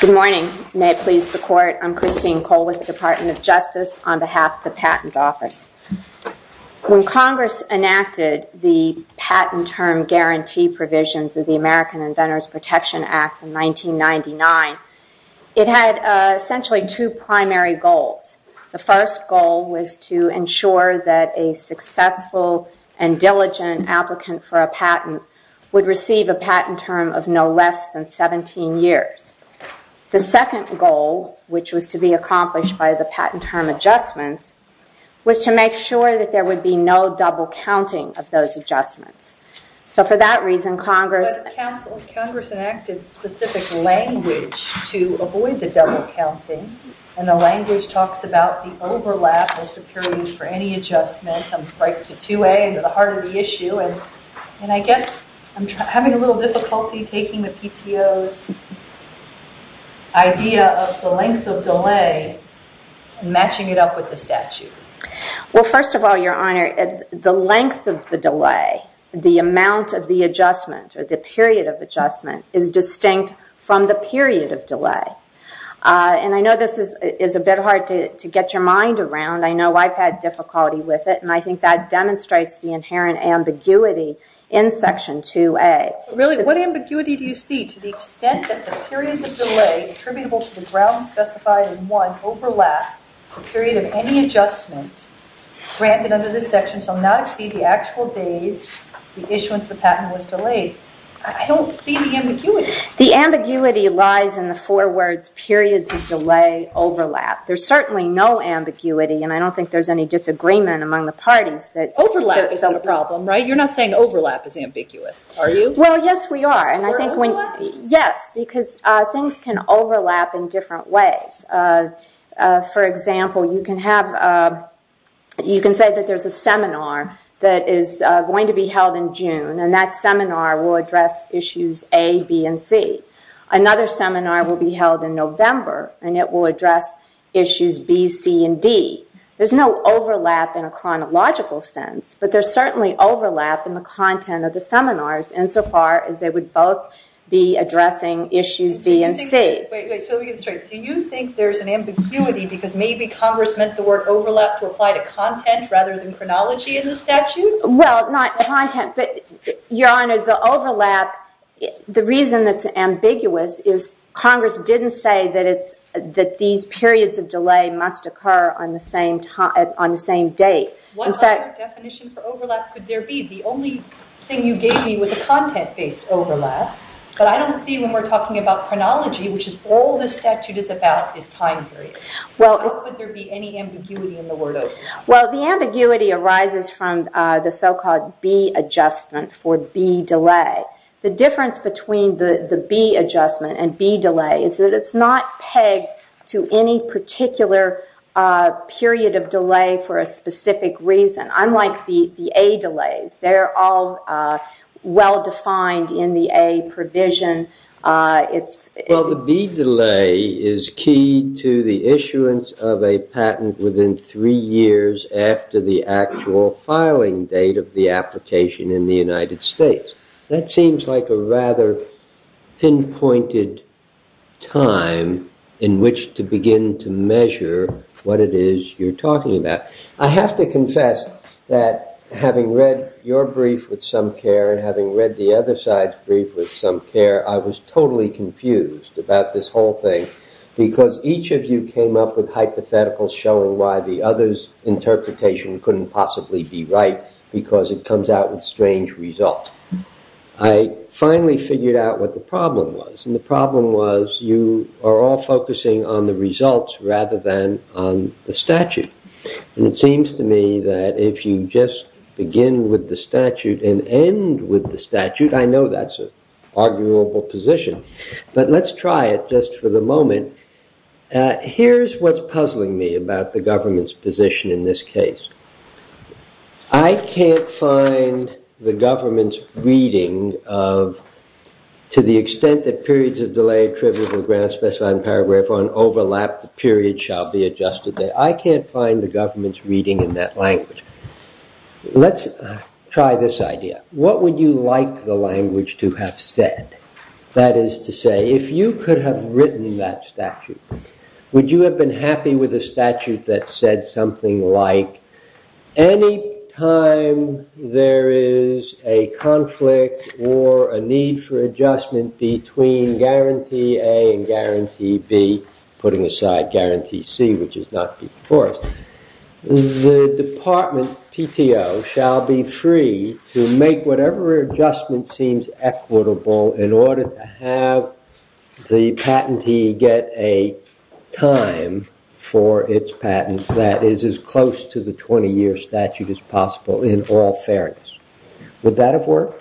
Good morning, may it please the court, I'm Christine Cole with the Department of Justice on behalf of the Patent Office. When Congress enacted the patent term guarantee provisions of the American Inventors Protection Act in 1999, it had essentially two primary goals. The first goal was to ensure that a successful and diligent applicant for a patent would receive a patent term of no less than 17 years. The second goal, which was to be accomplished by the patent term adjustments, was to make sure that there would be no double counting of those adjustments. So for that reason, Congress enacted specific language to avoid the double counting, and the language talks about the overlap of the period for any adjustment, right to 2A, the heart of the issue. And I guess I'm having a little difficulty taking the PTO's idea of the length of delay and matching it up with the statute. Well first of all, your honor, the length of the delay, the amount of the adjustment or the period of adjustment, is distinct from the period of delay. And I know this is a bit hard to get your mind around. I know I've had difficulty with it and I think that demonstrates the inherent ambiguity in section 2A. Really what ambiguity do you see to the extent that the periods of delay attributable to the grounds specified in 1 overlap the period of any adjustment granted under this section shall not exceed the actual days the issuance of the patent was delayed? I don't see the ambiguity. The ambiguity lies in the four words periods of delay overlap. There's certainly no ambiguity and I don't think there's any disagreement among the parties that overlap is the problem, right? You're not saying overlap is ambiguous, are you? Well yes we are. You're overlapping? Yes, because things can overlap in different ways. For example, you can have, you can say that there's a seminar that is going to be held in June and that seminar will address issues A, B, and C. Another seminar will be held in November and it will address issues B, C, and D. There's no overlap in a chronological sense, but there's certainly overlap in the content of the seminars insofar as they would both be addressing issues B and C. Wait, wait. So let me get this straight. Do you think there's an ambiguity because maybe Congress meant the word overlap to apply to content rather than chronology in the statute? Well, not content, but Your Honor, the overlap, the reason that's ambiguous is Congress didn't say that it's, that these periods of delay must occur on the same time, on the same date. In fact- What other definition for overlap could there be? The only thing you gave me was a content-based overlap, but I don't see when we're talking about chronology, which is all the statute is about is time period. How could there be any ambiguity in the word overlap? Well, the ambiguity arises from the so-called B adjustment for B delay. The difference between the B adjustment and B delay is that it's not pegged to any particular period of delay for a specific reason. Unlike the A delays, they're all well-defined in the A provision. It's- Well, the B delay is key to the issuance of a patent within three years after the actual filing date of the application in the United States. That seems like a rather pinpointed time in which to begin to measure what it is you're talking about. I have to confess that having read your brief with some care and having read the other side's brief with some care, I was totally confused about this whole thing because each of you came up with hypotheticals showing why the other's interpretation couldn't possibly be right because it comes out with strange results. I finally figured out what the problem was, and the problem was you are all focusing on the results rather than on the statute. And it seems to me that if you just begin with the statute and end with the statute, I know that's an arguable position, but let's try it just for the moment. Here's what's puzzling me about the government's position in this case. I can't find the government's reading of, to the extent that periods of delay trivial grant specified in paragraph 1 overlap, the period shall be adjusted. I can't find the government's reading in that language. Let's try this idea. What would you like the language to have said? That is to say, if you could have written that statute, would you have been happy with a statute that said something like, any time there is a conflict or a need for adjustment between guarantee A and guarantee B, putting aside guarantee C, which is not before us, the department PTO shall be free to make whatever adjustment seems equitable in order to have the patentee get a time for its patent that is as close to the 20-year statute as possible in all fairness. Would that have worked?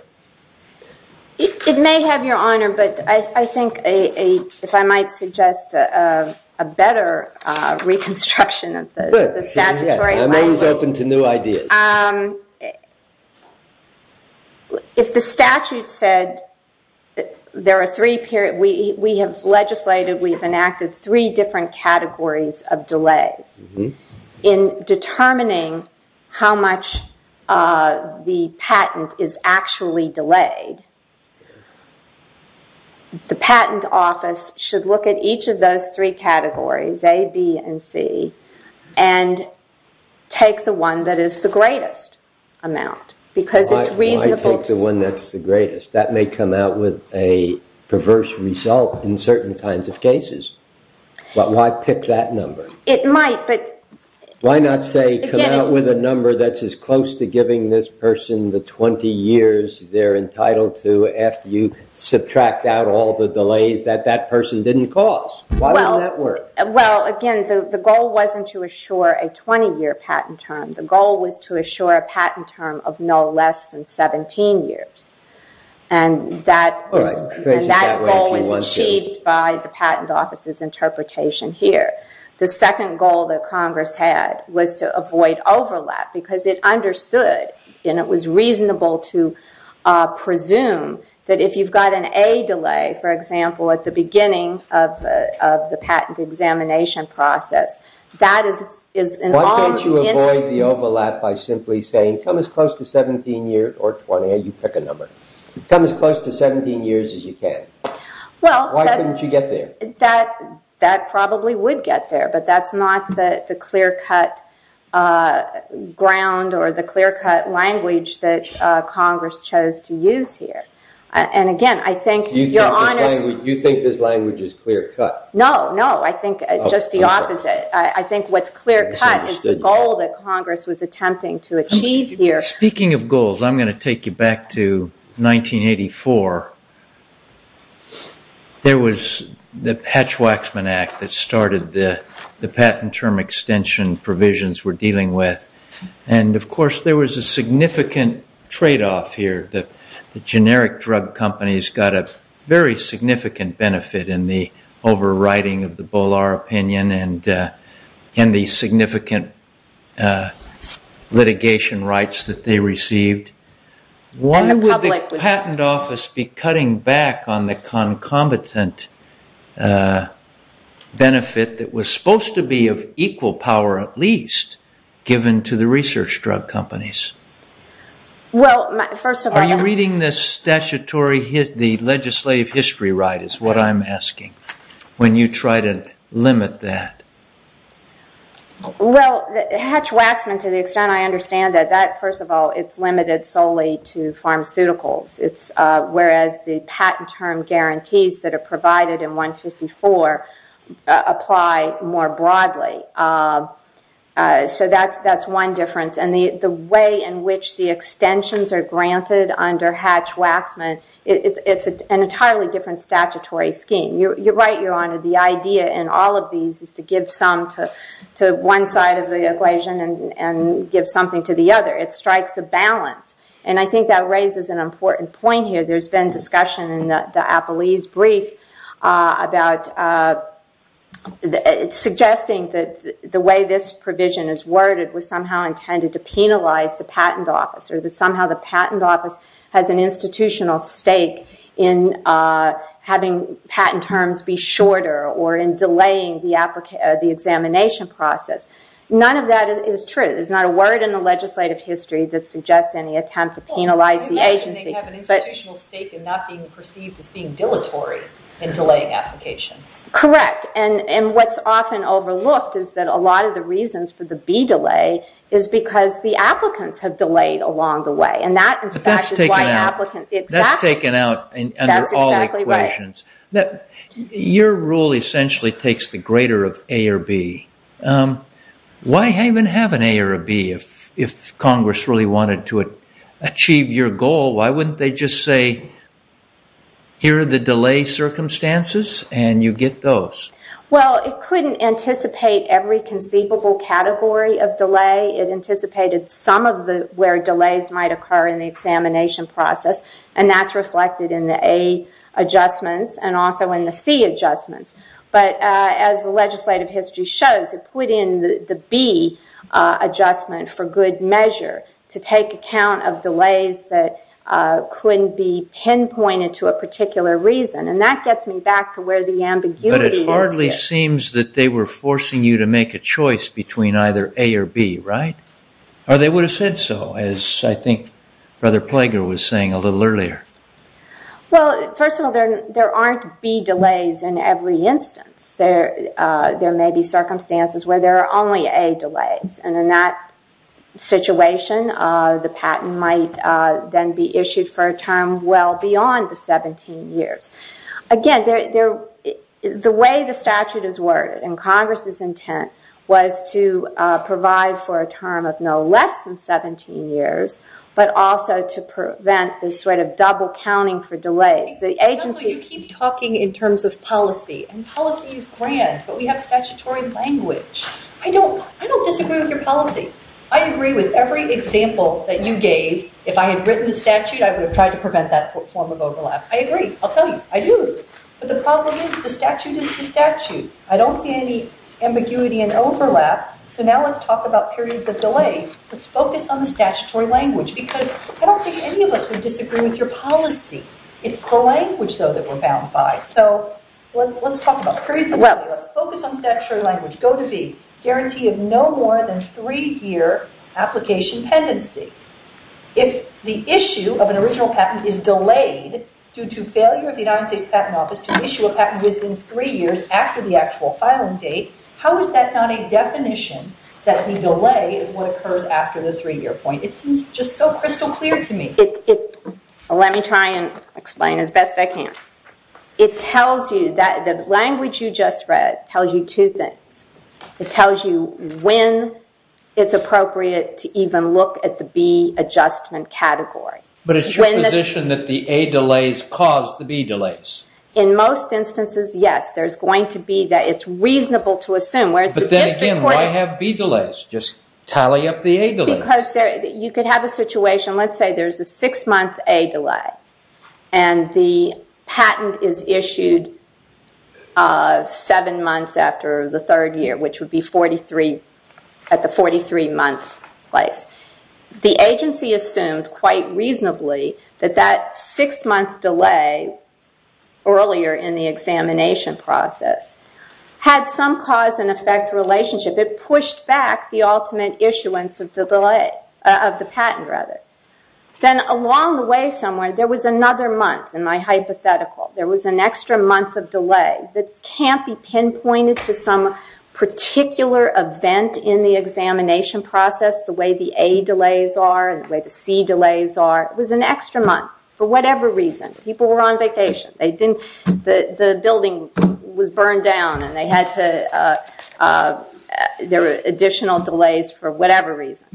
It may have, Your Honor, but I think if I might suggest a better reconstruction of the statutory language. Good. I'm always open to new ideas. If the statute said, we have legislated, we have enacted three different categories of the statute that are reasonably delayed, the patent office should look at each of those three categories, A, B, and C, and take the one that is the greatest amount. Why take the one that's the greatest? That may come out with a perverse result in certain kinds of cases, but why pick that number? It might, but... Why not say, come out with a number that's as close to giving this person the 20 years they're entitled to after you subtract out all the delays that that person didn't cause? Why would that work? Well, again, the goal wasn't to assure a 20-year patent term. The goal was to assure a patent term of no less than 17 years. And that goal was achieved by the patent office's interpretation here. The second goal that Congress had was to avoid overlap, because it understood, and it was reasonable to presume that if you've got an A delay, for example, at the beginning of the patent examination process, that is... Why can't you avoid the overlap by simply saying, come as close to 17 years, or 20, you pick a number, come as close to 17 years as you can? Why couldn't you get there? That probably would get there, but that's not the clear-cut ground or the clear-cut language that Congress chose to use here. And again, I think... You think this language is clear-cut? No, no, I think just the opposite. I think what's clear-cut is the goal that Congress was attempting to achieve here. Speaking of goals, I'm going to take you back to 1984. There was the Patch-Waxman Act that started the patent term extension provisions we're dealing with. And of course, there was a significant trade-off here. The generic drug companies got a very significant benefit in the overriding of the Bolar opinion and the significant litigation rights that they received. Why would the patent office be cutting back on the concomitant benefit that was supposed to be of equal power, at least, given to the research drug companies? Well, first of all... Are you reading this statutory, the legislative history right is what I'm asking, when you try to limit that? Well, Hatch-Waxman, to the extent I understand it, that, first of all, it's limited solely to pharmaceuticals, whereas the patent term guarantees that are provided in 154 apply more broadly. So that's one difference. And the way in which the extensions are granted under Hatch-Waxman, it's an entirely different statutory scheme. You're right, Your Honor. The idea in all of these is to give some to one side of the equation and give something to the other. It strikes a balance. And I think that raises an important point here. There's been discussion in the Appelese brief about... Suggesting that the way this provision is worded was somehow intended to penalize the patent office or that somehow the patent office has an institutional stake in having patent terms be shorter or in delaying the examination process. None of that is true. There's not a word in the legislative history that suggests any attempt to penalize the agency. Well, I imagine they have an institutional stake in not being perceived as being dilatory in delaying applications. Correct. And what's often overlooked is that a lot of the reasons for the B delay is because the applicants have delayed along the way. And that, in fact, is why applicants... But that's taken out. Exactly. That's taken out under all equations. Your rule essentially takes the greater of A or B. Why even have an A or a B if Congress really wanted to achieve your goal? Why wouldn't they just say, here are the delay circumstances and you get those? Well, it couldn't anticipate every conceivable category of delay. It anticipated some of where delays might occur in the examination process. And that's reflected in the A adjustments and also in the C adjustments. But as the legislative history shows, it put in the B adjustment for good measure to take account of delays that couldn't be pinpointed to a particular reason. And that gets me back to where the ambiguity is. But it hardly seems that they were forcing you to make a choice between either A or B, right? Or they would have said so, as I think Brother Plager was saying a little earlier. Well, first of all, there aren't B delays in every instance. There may be circumstances where there are only A delays. And in that situation, the patent might then be issued for a term well beyond the 17 years. Again, the way the statute is worded and Congress's intent was to provide for a term of no less than 17 years, but also to prevent this sort of double counting for delays. You keep talking in terms of policy. And policy is grand. But we have statutory language. I don't disagree with your policy. I agree with every example that you gave. If I had written the statute, I would have tried to prevent that form of overlap. I agree. I'll tell you. I do. But the problem is the statute is the statute. I don't see any ambiguity and overlap. So now let's talk about periods of delay. Let's focus on the statutory language. Because I don't think any of us would disagree with your policy. It's the language, though, that we're bound by. So let's talk about periods of delay. Let's focus on statutory language. Go to B. Guarantee of no more than three year application tendency. If the issue of an original patent is delayed due to failure of the United States Patent Office to issue a patent within three years after the actual filing date, how is that not a definition that the delay is what occurs after the three year point? It seems just so crystal clear to me. Let me try and explain as best I can. It tells you that the language you just read tells you two things. It tells you when it's appropriate to even look at the B adjustment category. But it's your position that the A delays cause the B delays? In most instances, yes. There's going to be that. It's reasonable to assume. But then again, why have B delays? Just tally up the A delays. Because you could have a situation. Let's say there's a six month A delay. And the patent is issued seven months after the third year, which would be at the 43 month place. The agency assumed quite reasonably that that six month delay earlier in the examination process had some cause and effect relationship. It pushed back the ultimate issuance of the patent. Then along the way somewhere, there was another month in my hypothetical. There was an extra month of delay that can't be pinpointed to some particular event in the examination process the way the A delays are and the way the C delays are. It was an extra month for whatever reason. People were on vacation. The building was burned down and there were additional delays for whatever reason.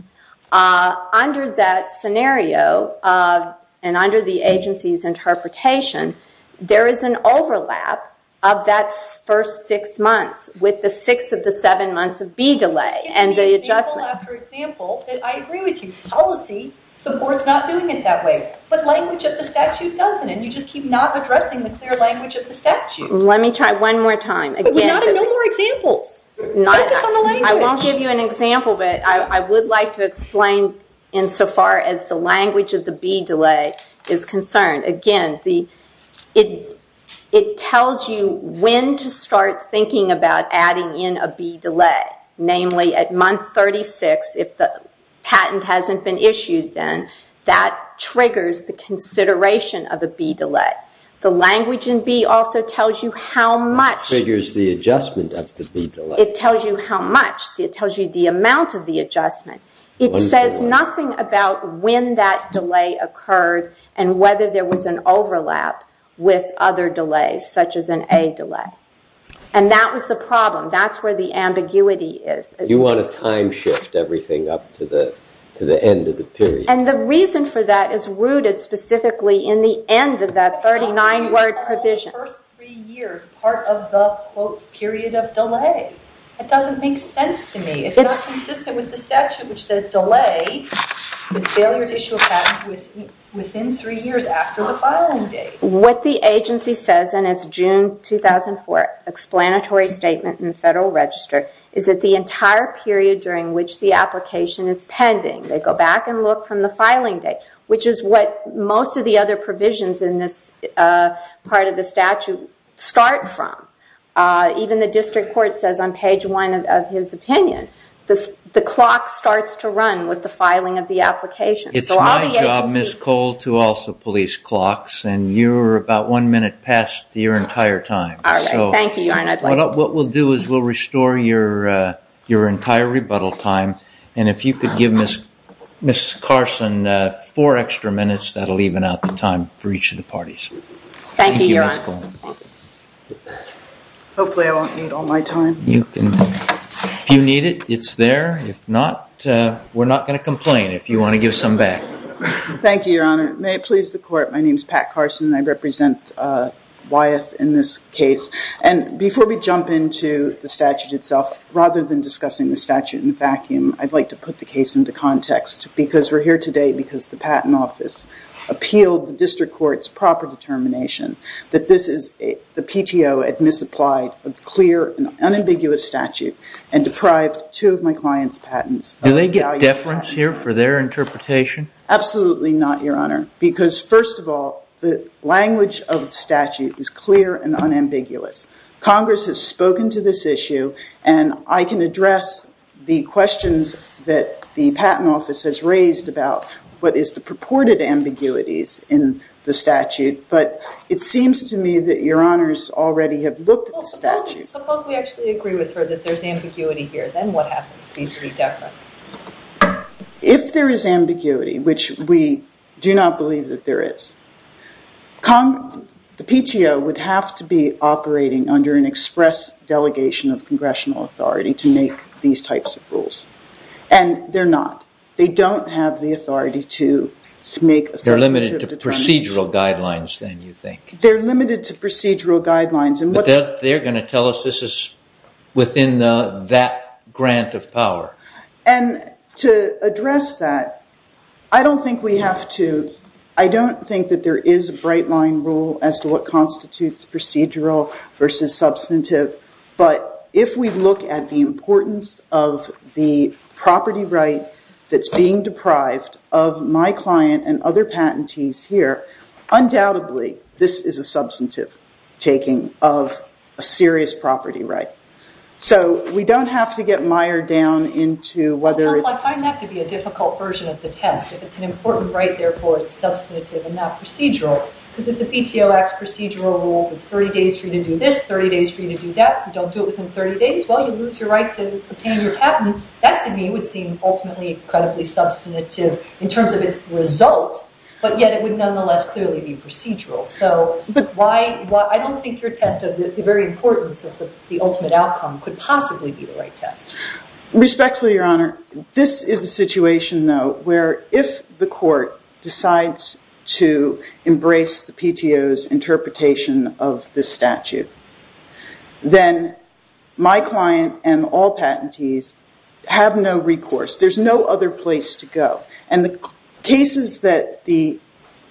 Under that scenario and under the agency's interpretation, there is an overlap of that first six months with the six of the seven months of B delay and the adjustment. Just give me example after example that I agree with you. Policy supports not doing it that way. But language of the statute doesn't and you just keep not addressing the clear language of the statute. Let me try one more time. But we're not in no more examples. Focus on the language. I won't give you an example, but I would like to explain insofar as the language of the B delay is concerned. Again, it tells you when to start thinking about adding in a B delay. Namely, at month 36, if the patent hasn't been issued, then that triggers the consideration of a B delay. The language in B also tells you how much. Triggers the adjustment of the B delay. It tells you how much. It tells you the amount of the adjustment. It says nothing about when that delay occurred and whether there was an overlap with other delays, such as an A delay. And that was the problem. That's where the ambiguity is. You want to time shift everything up to the end of the period. And the reason for that is rooted specifically in the end of that 39-word provision. The first three years, part of the, quote, period of delay. That doesn't make sense to me. It's not consistent with the statute, which says delay is failure to issue a patent within three years after the filing date. What the agency says in its June 2004 explanatory statement in the Federal Register is that the entire period during which the application is pending, they go back and look from the statute start from. Even the district court says on page one of his opinion, the clock starts to run with the filing of the application. It's my job, Ms. Cole, to also police clocks. And you're about one minute past your entire time. All right. Thank you, Your Honor. What we'll do is we'll restore your entire rebuttal time. And if you could give Ms. Carson four extra minutes, that'll even out the time for each of the parties. Thank you very much. Thank you, Your Honor. Thank you, Ms. Cole. Hopefully, I won't need all my time. You can. If you need it, it's there. If not, we're not going to complain if you want to give some back. Thank you, Your Honor. May it please the court, my name is Pat Carson. I represent Wyeth in this case. And before we jump into the statute itself, rather than discussing the statute in a vacuum, I'd like to put the case into context. Because we're here today because the Patent Office appealed the district court's proper determination that this is the PTO had misapplied a clear and unambiguous statute and deprived two of my clients' patents. Do they get deference here for their interpretation? Absolutely not, Your Honor. Because first of all, the language of the statute is clear and unambiguous. Congress has spoken to this issue. And I can address the questions that the Patent Office has raised about what is the purported ambiguities in the statute. But it seems to me that Your Honors already have looked at the statute. Well, suppose we actually agree with her that there's ambiguity here. Then what happens? We get deference. If there is ambiguity, which we do not believe that there is, the PTO would have to be operating under an express delegation of congressional authority to make these types of rules. And they're not. They don't have the authority to make a substantive determination. They're limited to procedural guidelines, then, you think. They're limited to procedural guidelines. But they're going to tell us this is within that grant of power. And to address that, I don't think that there is a bright line rule as to what constitutes procedural versus substantive. But if we look at the importance of the property right that's being deprived of my client and other patentees here, undoubtedly, this is a substantive taking of a serious property right. So we don't have to get mired down into whether it's— I find that to be a difficult version of the test. If it's an important right, therefore it's substantive and not procedural. Because if the PTO acts procedural rules with 30 days for you to do this, 30 days for you to do that, you don't do it within 30 days, well, you lose your right to obtain your patent. That, to me, would seem ultimately incredibly substantive in terms of its result. But yet it would nonetheless clearly be procedural. So I don't think your test of the very importance of the ultimate outcome could possibly be the right test. Where if the court decides to embrace the PTO's interpretation of this statute, then my client and all patentees have no recourse. There's no other place to go. And the cases that the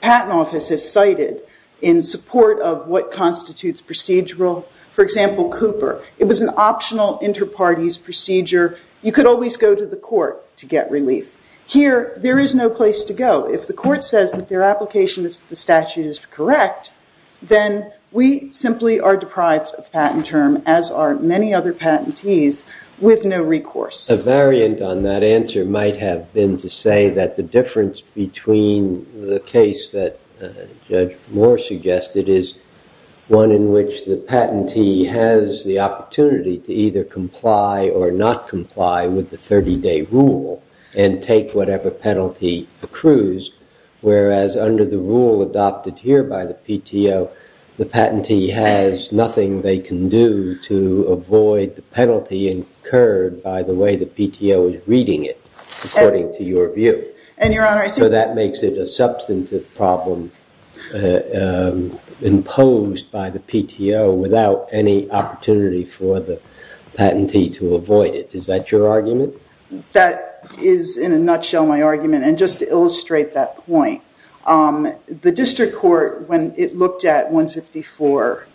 Patent Office has cited in support of what constitutes procedural, for example, Cooper, it was an optional inter-parties procedure. You could always go to the court to get relief. Here, there is no place to go. If the court says that their application of the statute is correct, then we simply are deprived of patent term, as are many other patentees, with no recourse. A variant on that answer might have been to say that the difference between the case that Judge Moore suggested is one in which the patentee has the opportunity to either comply or not comply with the 30-day rule and take whatever penalty accrues, whereas under the rule adopted here by the PTO, the patentee has nothing they can do to avoid the penalty incurred by the way the PTO is reading it, according to your view. So that makes it a substantive problem imposed by the PTO without any opportunity for the patentee to avoid it. Is that your argument? That is, in a nutshell, my argument. And just to illustrate that point, the district court, when it looked at 154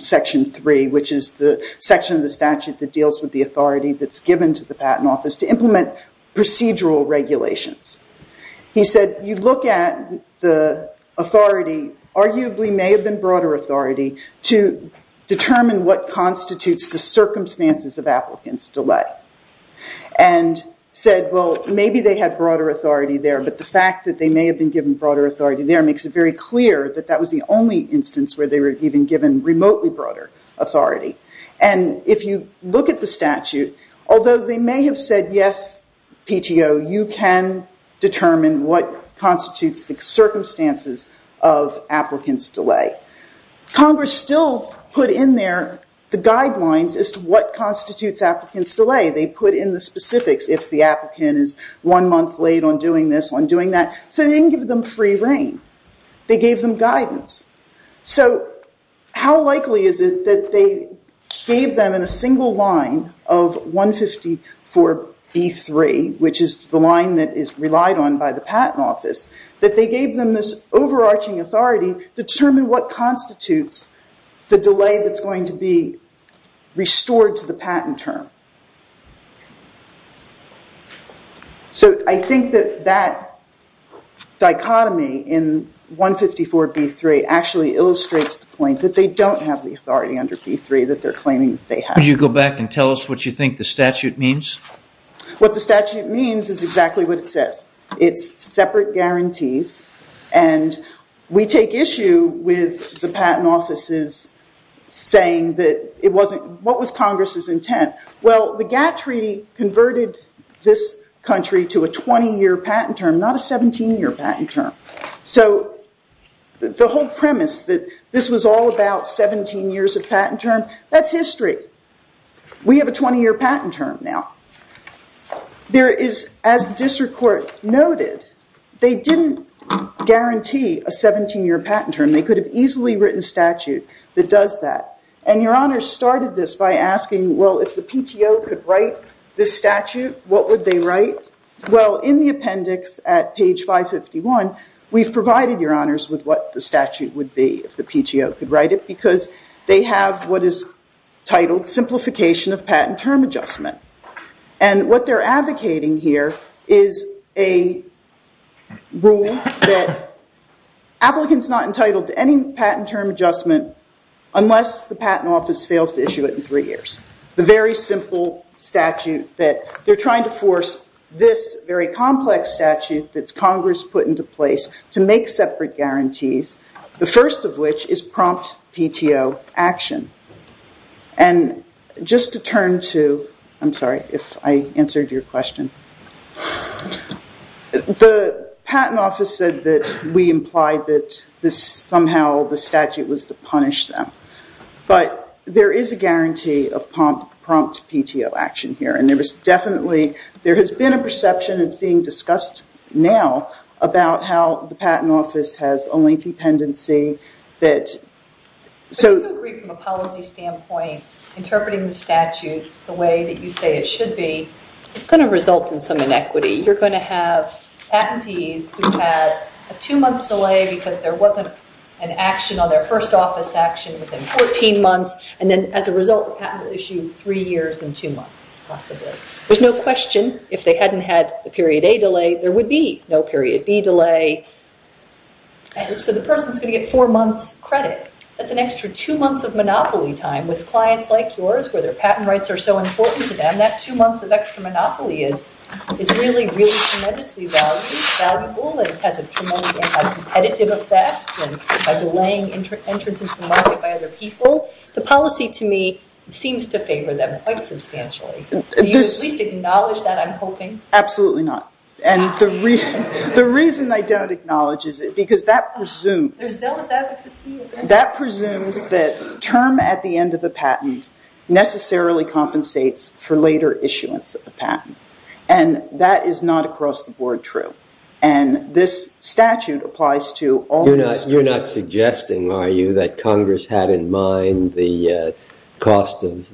section 3, which is the section of the statute that deals with the authority that's given to the patent office to implement procedural regulations, he said, you look at the authority, arguably may have been broader authority, to determine what constitutes the circumstances of applicants' delay. And said, well, maybe they had broader authority there, but the fact that they may have been given broader authority there makes it very clear that that was the only instance where they were even given remotely broader authority. And if you look at the statute, although they may have said, yes, PTO, you can determine what constitutes the circumstances of applicants' delay. Congress still put in there the guidelines as to what constitutes applicants' delay. They put in the specifics if the applicant is one month late on doing this, on doing that. So they didn't give them free reign. They gave them guidance. So how likely is it that they gave them in a single line of 154B3, which is the line that is relied on by the patent office, that they gave them this overarching authority to determine what constitutes the delay that's going to be restored to the patent term. So I think that that dichotomy in 154B3 actually illustrates the point that they don't have the authority under B3 that they're claiming they have. Could you go back and tell us what you think the statute means? What the statute means is exactly what it says. It's separate guarantees. And we take issue with the patent offices saying that it wasn't, what was Congress's intent? Well, the GATT treaty converted this country to a 20-year patent term, not a 17-year patent term. So the whole premise that this was all about 17 years of patent term, that's history. We have a 20-year patent term now. There is, as the district court noted, they didn't guarantee a 17-year patent term. They could have easily written statute that does that. And Your Honor started this by asking, well, if the PTO could write this statute, what would they write? Well, in the appendix at page 551, we've provided, Your Honors, with what the statute would be if the PTO could write it, because they have what is titled simplification of patent term adjustment. And what they're advocating here is a rule that applicants not entitled to any patent term adjustment unless the patent office fails to issue it in three years. The very simple statute that they're trying to force this very complex statute that Congress put into place to make separate guarantees, the first of which is prompt PTO action. And just to turn to, I'm sorry if I answered your question. The patent office said that we implied that somehow the statute was to punish them. But there is a guarantee of prompt PTO action here. And there has been a perception, it's being discussed now, about how the patent office has a lengthy pendency. Do you agree from a policy standpoint, interpreting the statute the way that you say it should be, is going to result in some inequity? You're going to have patentees who had a two-month delay because there wasn't an action on their first office action within 14 months. And then, as a result, the patent will issue three years in two months, possibly. There's no question, if they hadn't had the period A delay, there would be no period B delay. So the person's going to get four months credit. That's an extra two months of monopoly time with clients like yours where their patent rights are so important to them. That two months of extra monopoly is really, really tremendously valuable and has a tremendous anti-competitive effect by delaying entrance into the market by other people. The policy, to me, seems to favor them quite substantially. Do you at least acknowledge that, I'm hoping? Absolutely not. And the reason I don't acknowledge it is because that presumes There's zealous advocacy. That presumes that term at the end of the patent necessarily compensates for later issuance of the patent. And that is not, across the board, true. And this statute applies to all those... You're not suggesting, are you, that Congress had in mind the cost of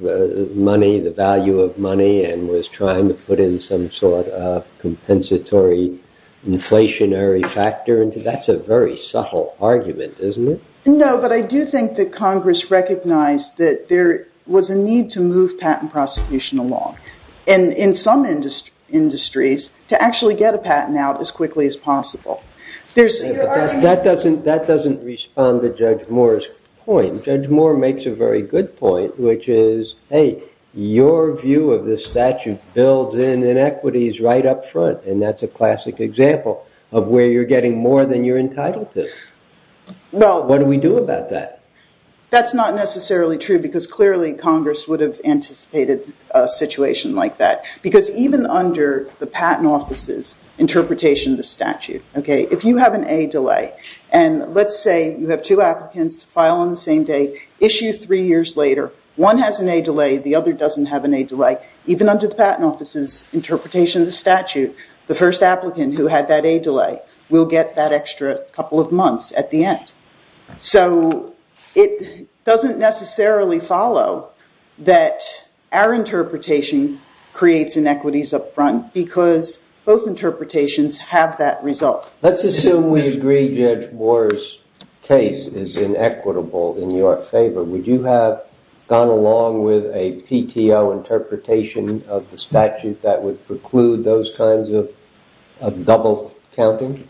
money, the value of money, and was trying to put in some sort of compensatory inflationary factor? That's a very subtle argument, isn't it? No, but I do think that Congress recognized that there was a need to move patent prosecution along. And in some industries, to actually get a patent out as quickly as possible. That doesn't respond to Judge Moore's point. Judge Moore makes a very good point, which is, hey, your view of this statute builds in inequities right up front. And that's a classic example of where you're getting more than you're entitled to. What do we do about that? That's not necessarily true, because clearly Congress would have anticipated a situation like that. Because even under the Patent Office's interpretation of the statute, if you have an A delay, and let's say you have two applicants file on the same day, issue three years later, one has an A delay, the other doesn't have an A delay, the first applicant who had that A delay will get that extra couple of months at the end. So it doesn't necessarily follow that our interpretation creates inequities up front, because both interpretations have that result. Let's assume we agree Judge Moore's case is inequitable in your favor. Would you have gone along with a PTO interpretation of the statute that would preclude those kinds of double counting?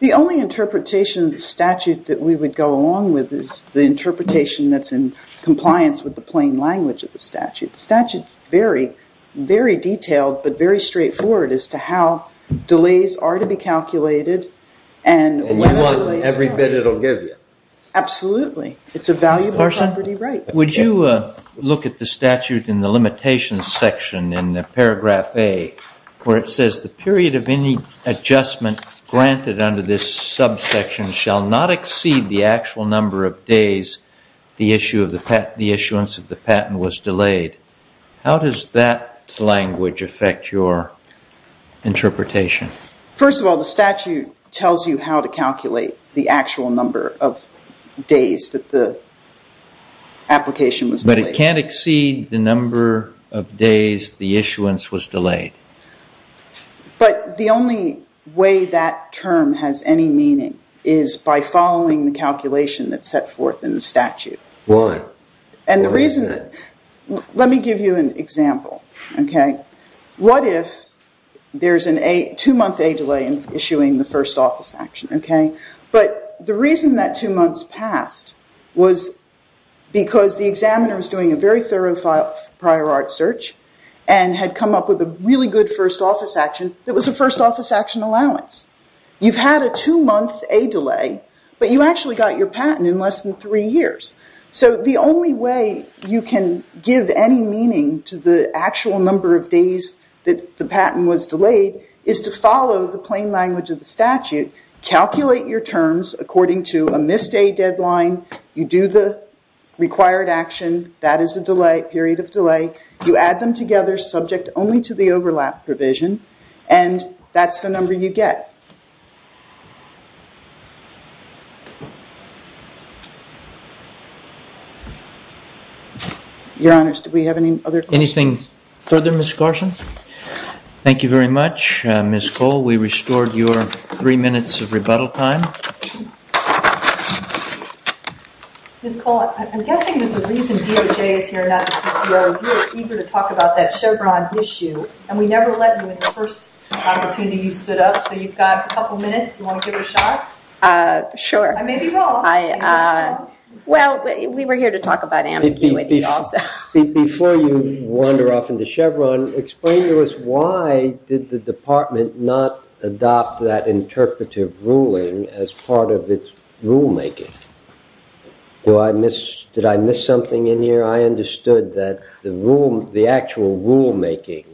The only interpretation of the statute that we would go along with is the interpretation that's in compliance with the plain language of the statute. The statute is very, very detailed, but very straightforward as to how delays are to be calculated. And you want every bit it'll give you. Absolutely. It's a valuable property right. Would you look at the statute in the limitations section in paragraph A, where it says the period of any adjustment granted under this subsection shall not exceed the actual number of days the issuance of the patent was delayed. How does that language affect your interpretation? First of all, the statute tells you how to calculate the actual number of days that the application was delayed. But it can't exceed the number of days the issuance was delayed. But the only way that term has any meaning is by following the calculation that's set forth in the statute. Why? Let me give you an example. What if there's a two-month delay in issuing the first office action? But the reason that two months passed was because the examiner was doing a very thorough prior art search and had come up with a really good first office action that was a first office action allowance. You've had a two-month delay, but you actually got your patent in less than three years. So the only way you can give any meaning to the actual number of days that the patent was delayed is to follow the plain language of the statute. Calculate your terms according to a missed day deadline. You do the required action. That is a period of delay. You add them together subject only to the overlap provision, and that's the number you get. Your Honor, do we have any other questions? Anything further, Ms. Carson? Thank you very much, Ms. Cole. We restored your three minutes of rebuttal time. Ms. Cole, I'm guessing that the reason DOJ is here and not the PTO is you were eager to talk about that Chevron issue, and we never let you in the first opportunity you stood up. So you've got a couple minutes. You want to give it a shot? Sure. I may be wrong. Well, we were here to talk about ambiguity also. Before you wander off into Chevron, explain to us why did the department not adopt that interpretive ruling as part of its rulemaking? Did I miss something in here? I understood that the actual rulemaking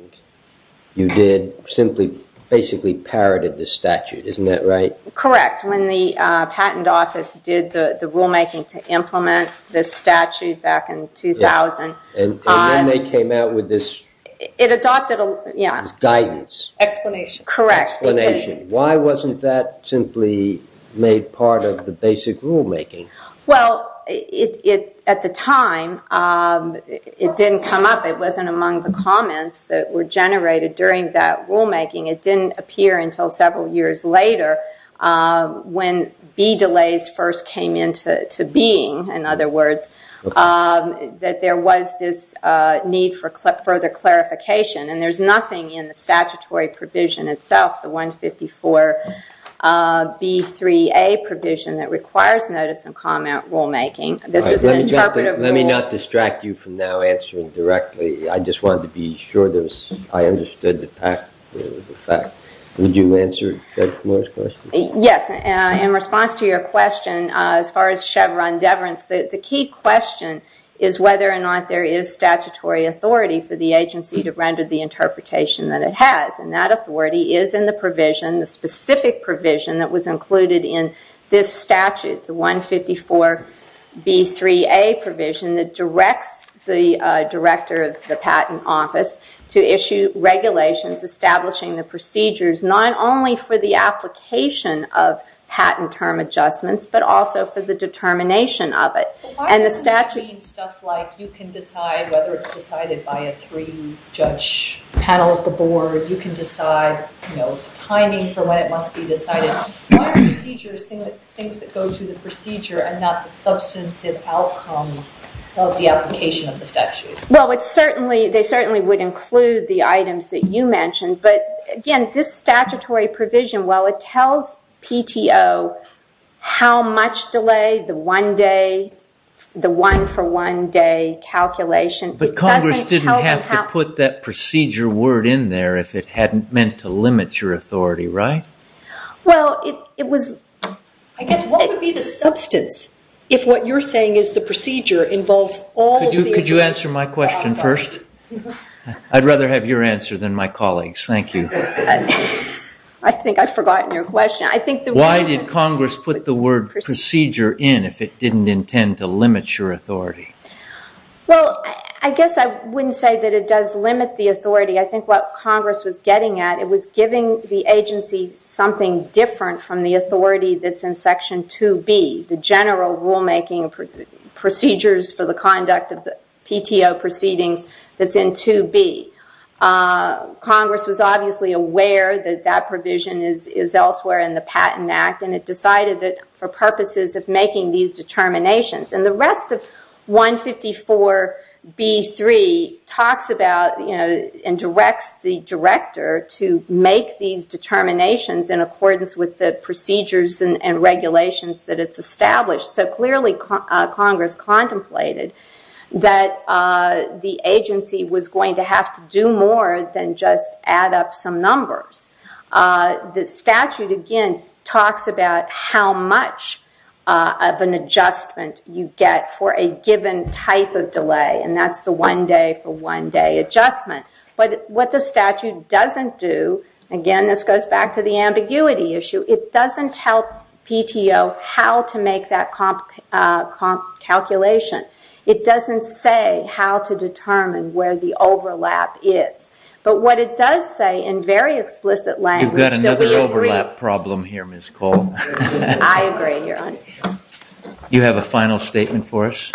you did simply basically parroted the statute. Isn't that right? Correct. In fact, when the Patent Office did the rulemaking to implement this statute back in 2000. And then they came out with this guidance. Explanation. Correct. Explanation. Why wasn't that simply made part of the basic rulemaking? Well, at the time, it didn't come up. It wasn't among the comments that were generated during that rulemaking. It didn't appear until several years later when B delays first came into being, in other words, that there was this need for further clarification. And there's nothing in the statutory provision itself, the 154B3A provision, that requires notice and comment rulemaking. This is an interpretive rule. Let me not distract you from now answering directly. I just wanted to be sure I understood the fact. Would you answer Judge Moore's question? Yes. In response to your question, as far as Chevron deference, the key question is whether or not there is statutory authority for the agency to render the interpretation that it has. And that authority is in the provision, the specific provision that was included in this statute, the 154B3A provision that directs the director of the patent office to issue regulations establishing the procedures, not only for the application of patent term adjustments, but also for the determination of it. And the statute- But why doesn't it mean stuff like you can decide whether it's decided by a three-judge panel at the board? You can decide timing for when it must be decided. Why are procedures things that go to the procedure and not the substantive outcome of the application of the statute? Well, they certainly would include the items that you mentioned. But, again, this statutory provision, while it tells PTO how much delay the one-day, the one-for-one-day calculation- But Congress didn't have to put that procedure word in there if it hadn't meant to limit your authority, right? Well, it was- I guess what would be the substance if what you're saying is the procedure involves all of the- Could you answer my question first? I'd rather have your answer than my colleagues. Thank you. I think I've forgotten your question. Why did Congress put the word procedure in if it didn't intend to limit your authority? Well, I guess I wouldn't say that it does limit the authority. I think what Congress was getting at, it was giving the agency something different from the authority that's in Section 2B, the general rulemaking procedures for the conduct of the PTO proceedings that's in 2B. Congress was obviously aware that that provision is elsewhere in the Patent Act, and it decided that for purposes of making these determinations. The rest of 154B.3 talks about and directs the director to make these determinations in accordance with the procedures and regulations that it's established. Clearly, Congress contemplated that the agency was going to have to do more than just add up some numbers. The statute, again, talks about how much of an adjustment you get for a given type of delay, and that's the one day for one day adjustment. But what the statute doesn't do, again, this goes back to the ambiguity issue, it doesn't tell PTO how to make that calculation. It doesn't say how to determine where the overlap is. But what it does say in very explicit language... You've got another overlap problem here, Ms. Cole. I agree. Do you have a final statement for us?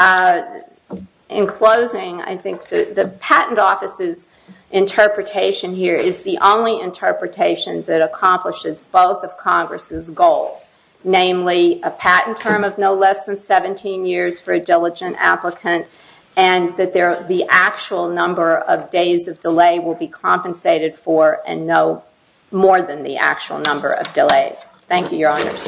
In closing, I think the Patent Office's interpretation here is the only interpretation that accomplishes both of Congress' goals. Namely, a patent term of no less than 17 years for a diligent applicant, and that the actual number of days of delay will be compensated for in no more than the actual number of delays. Thank you, Your Honors.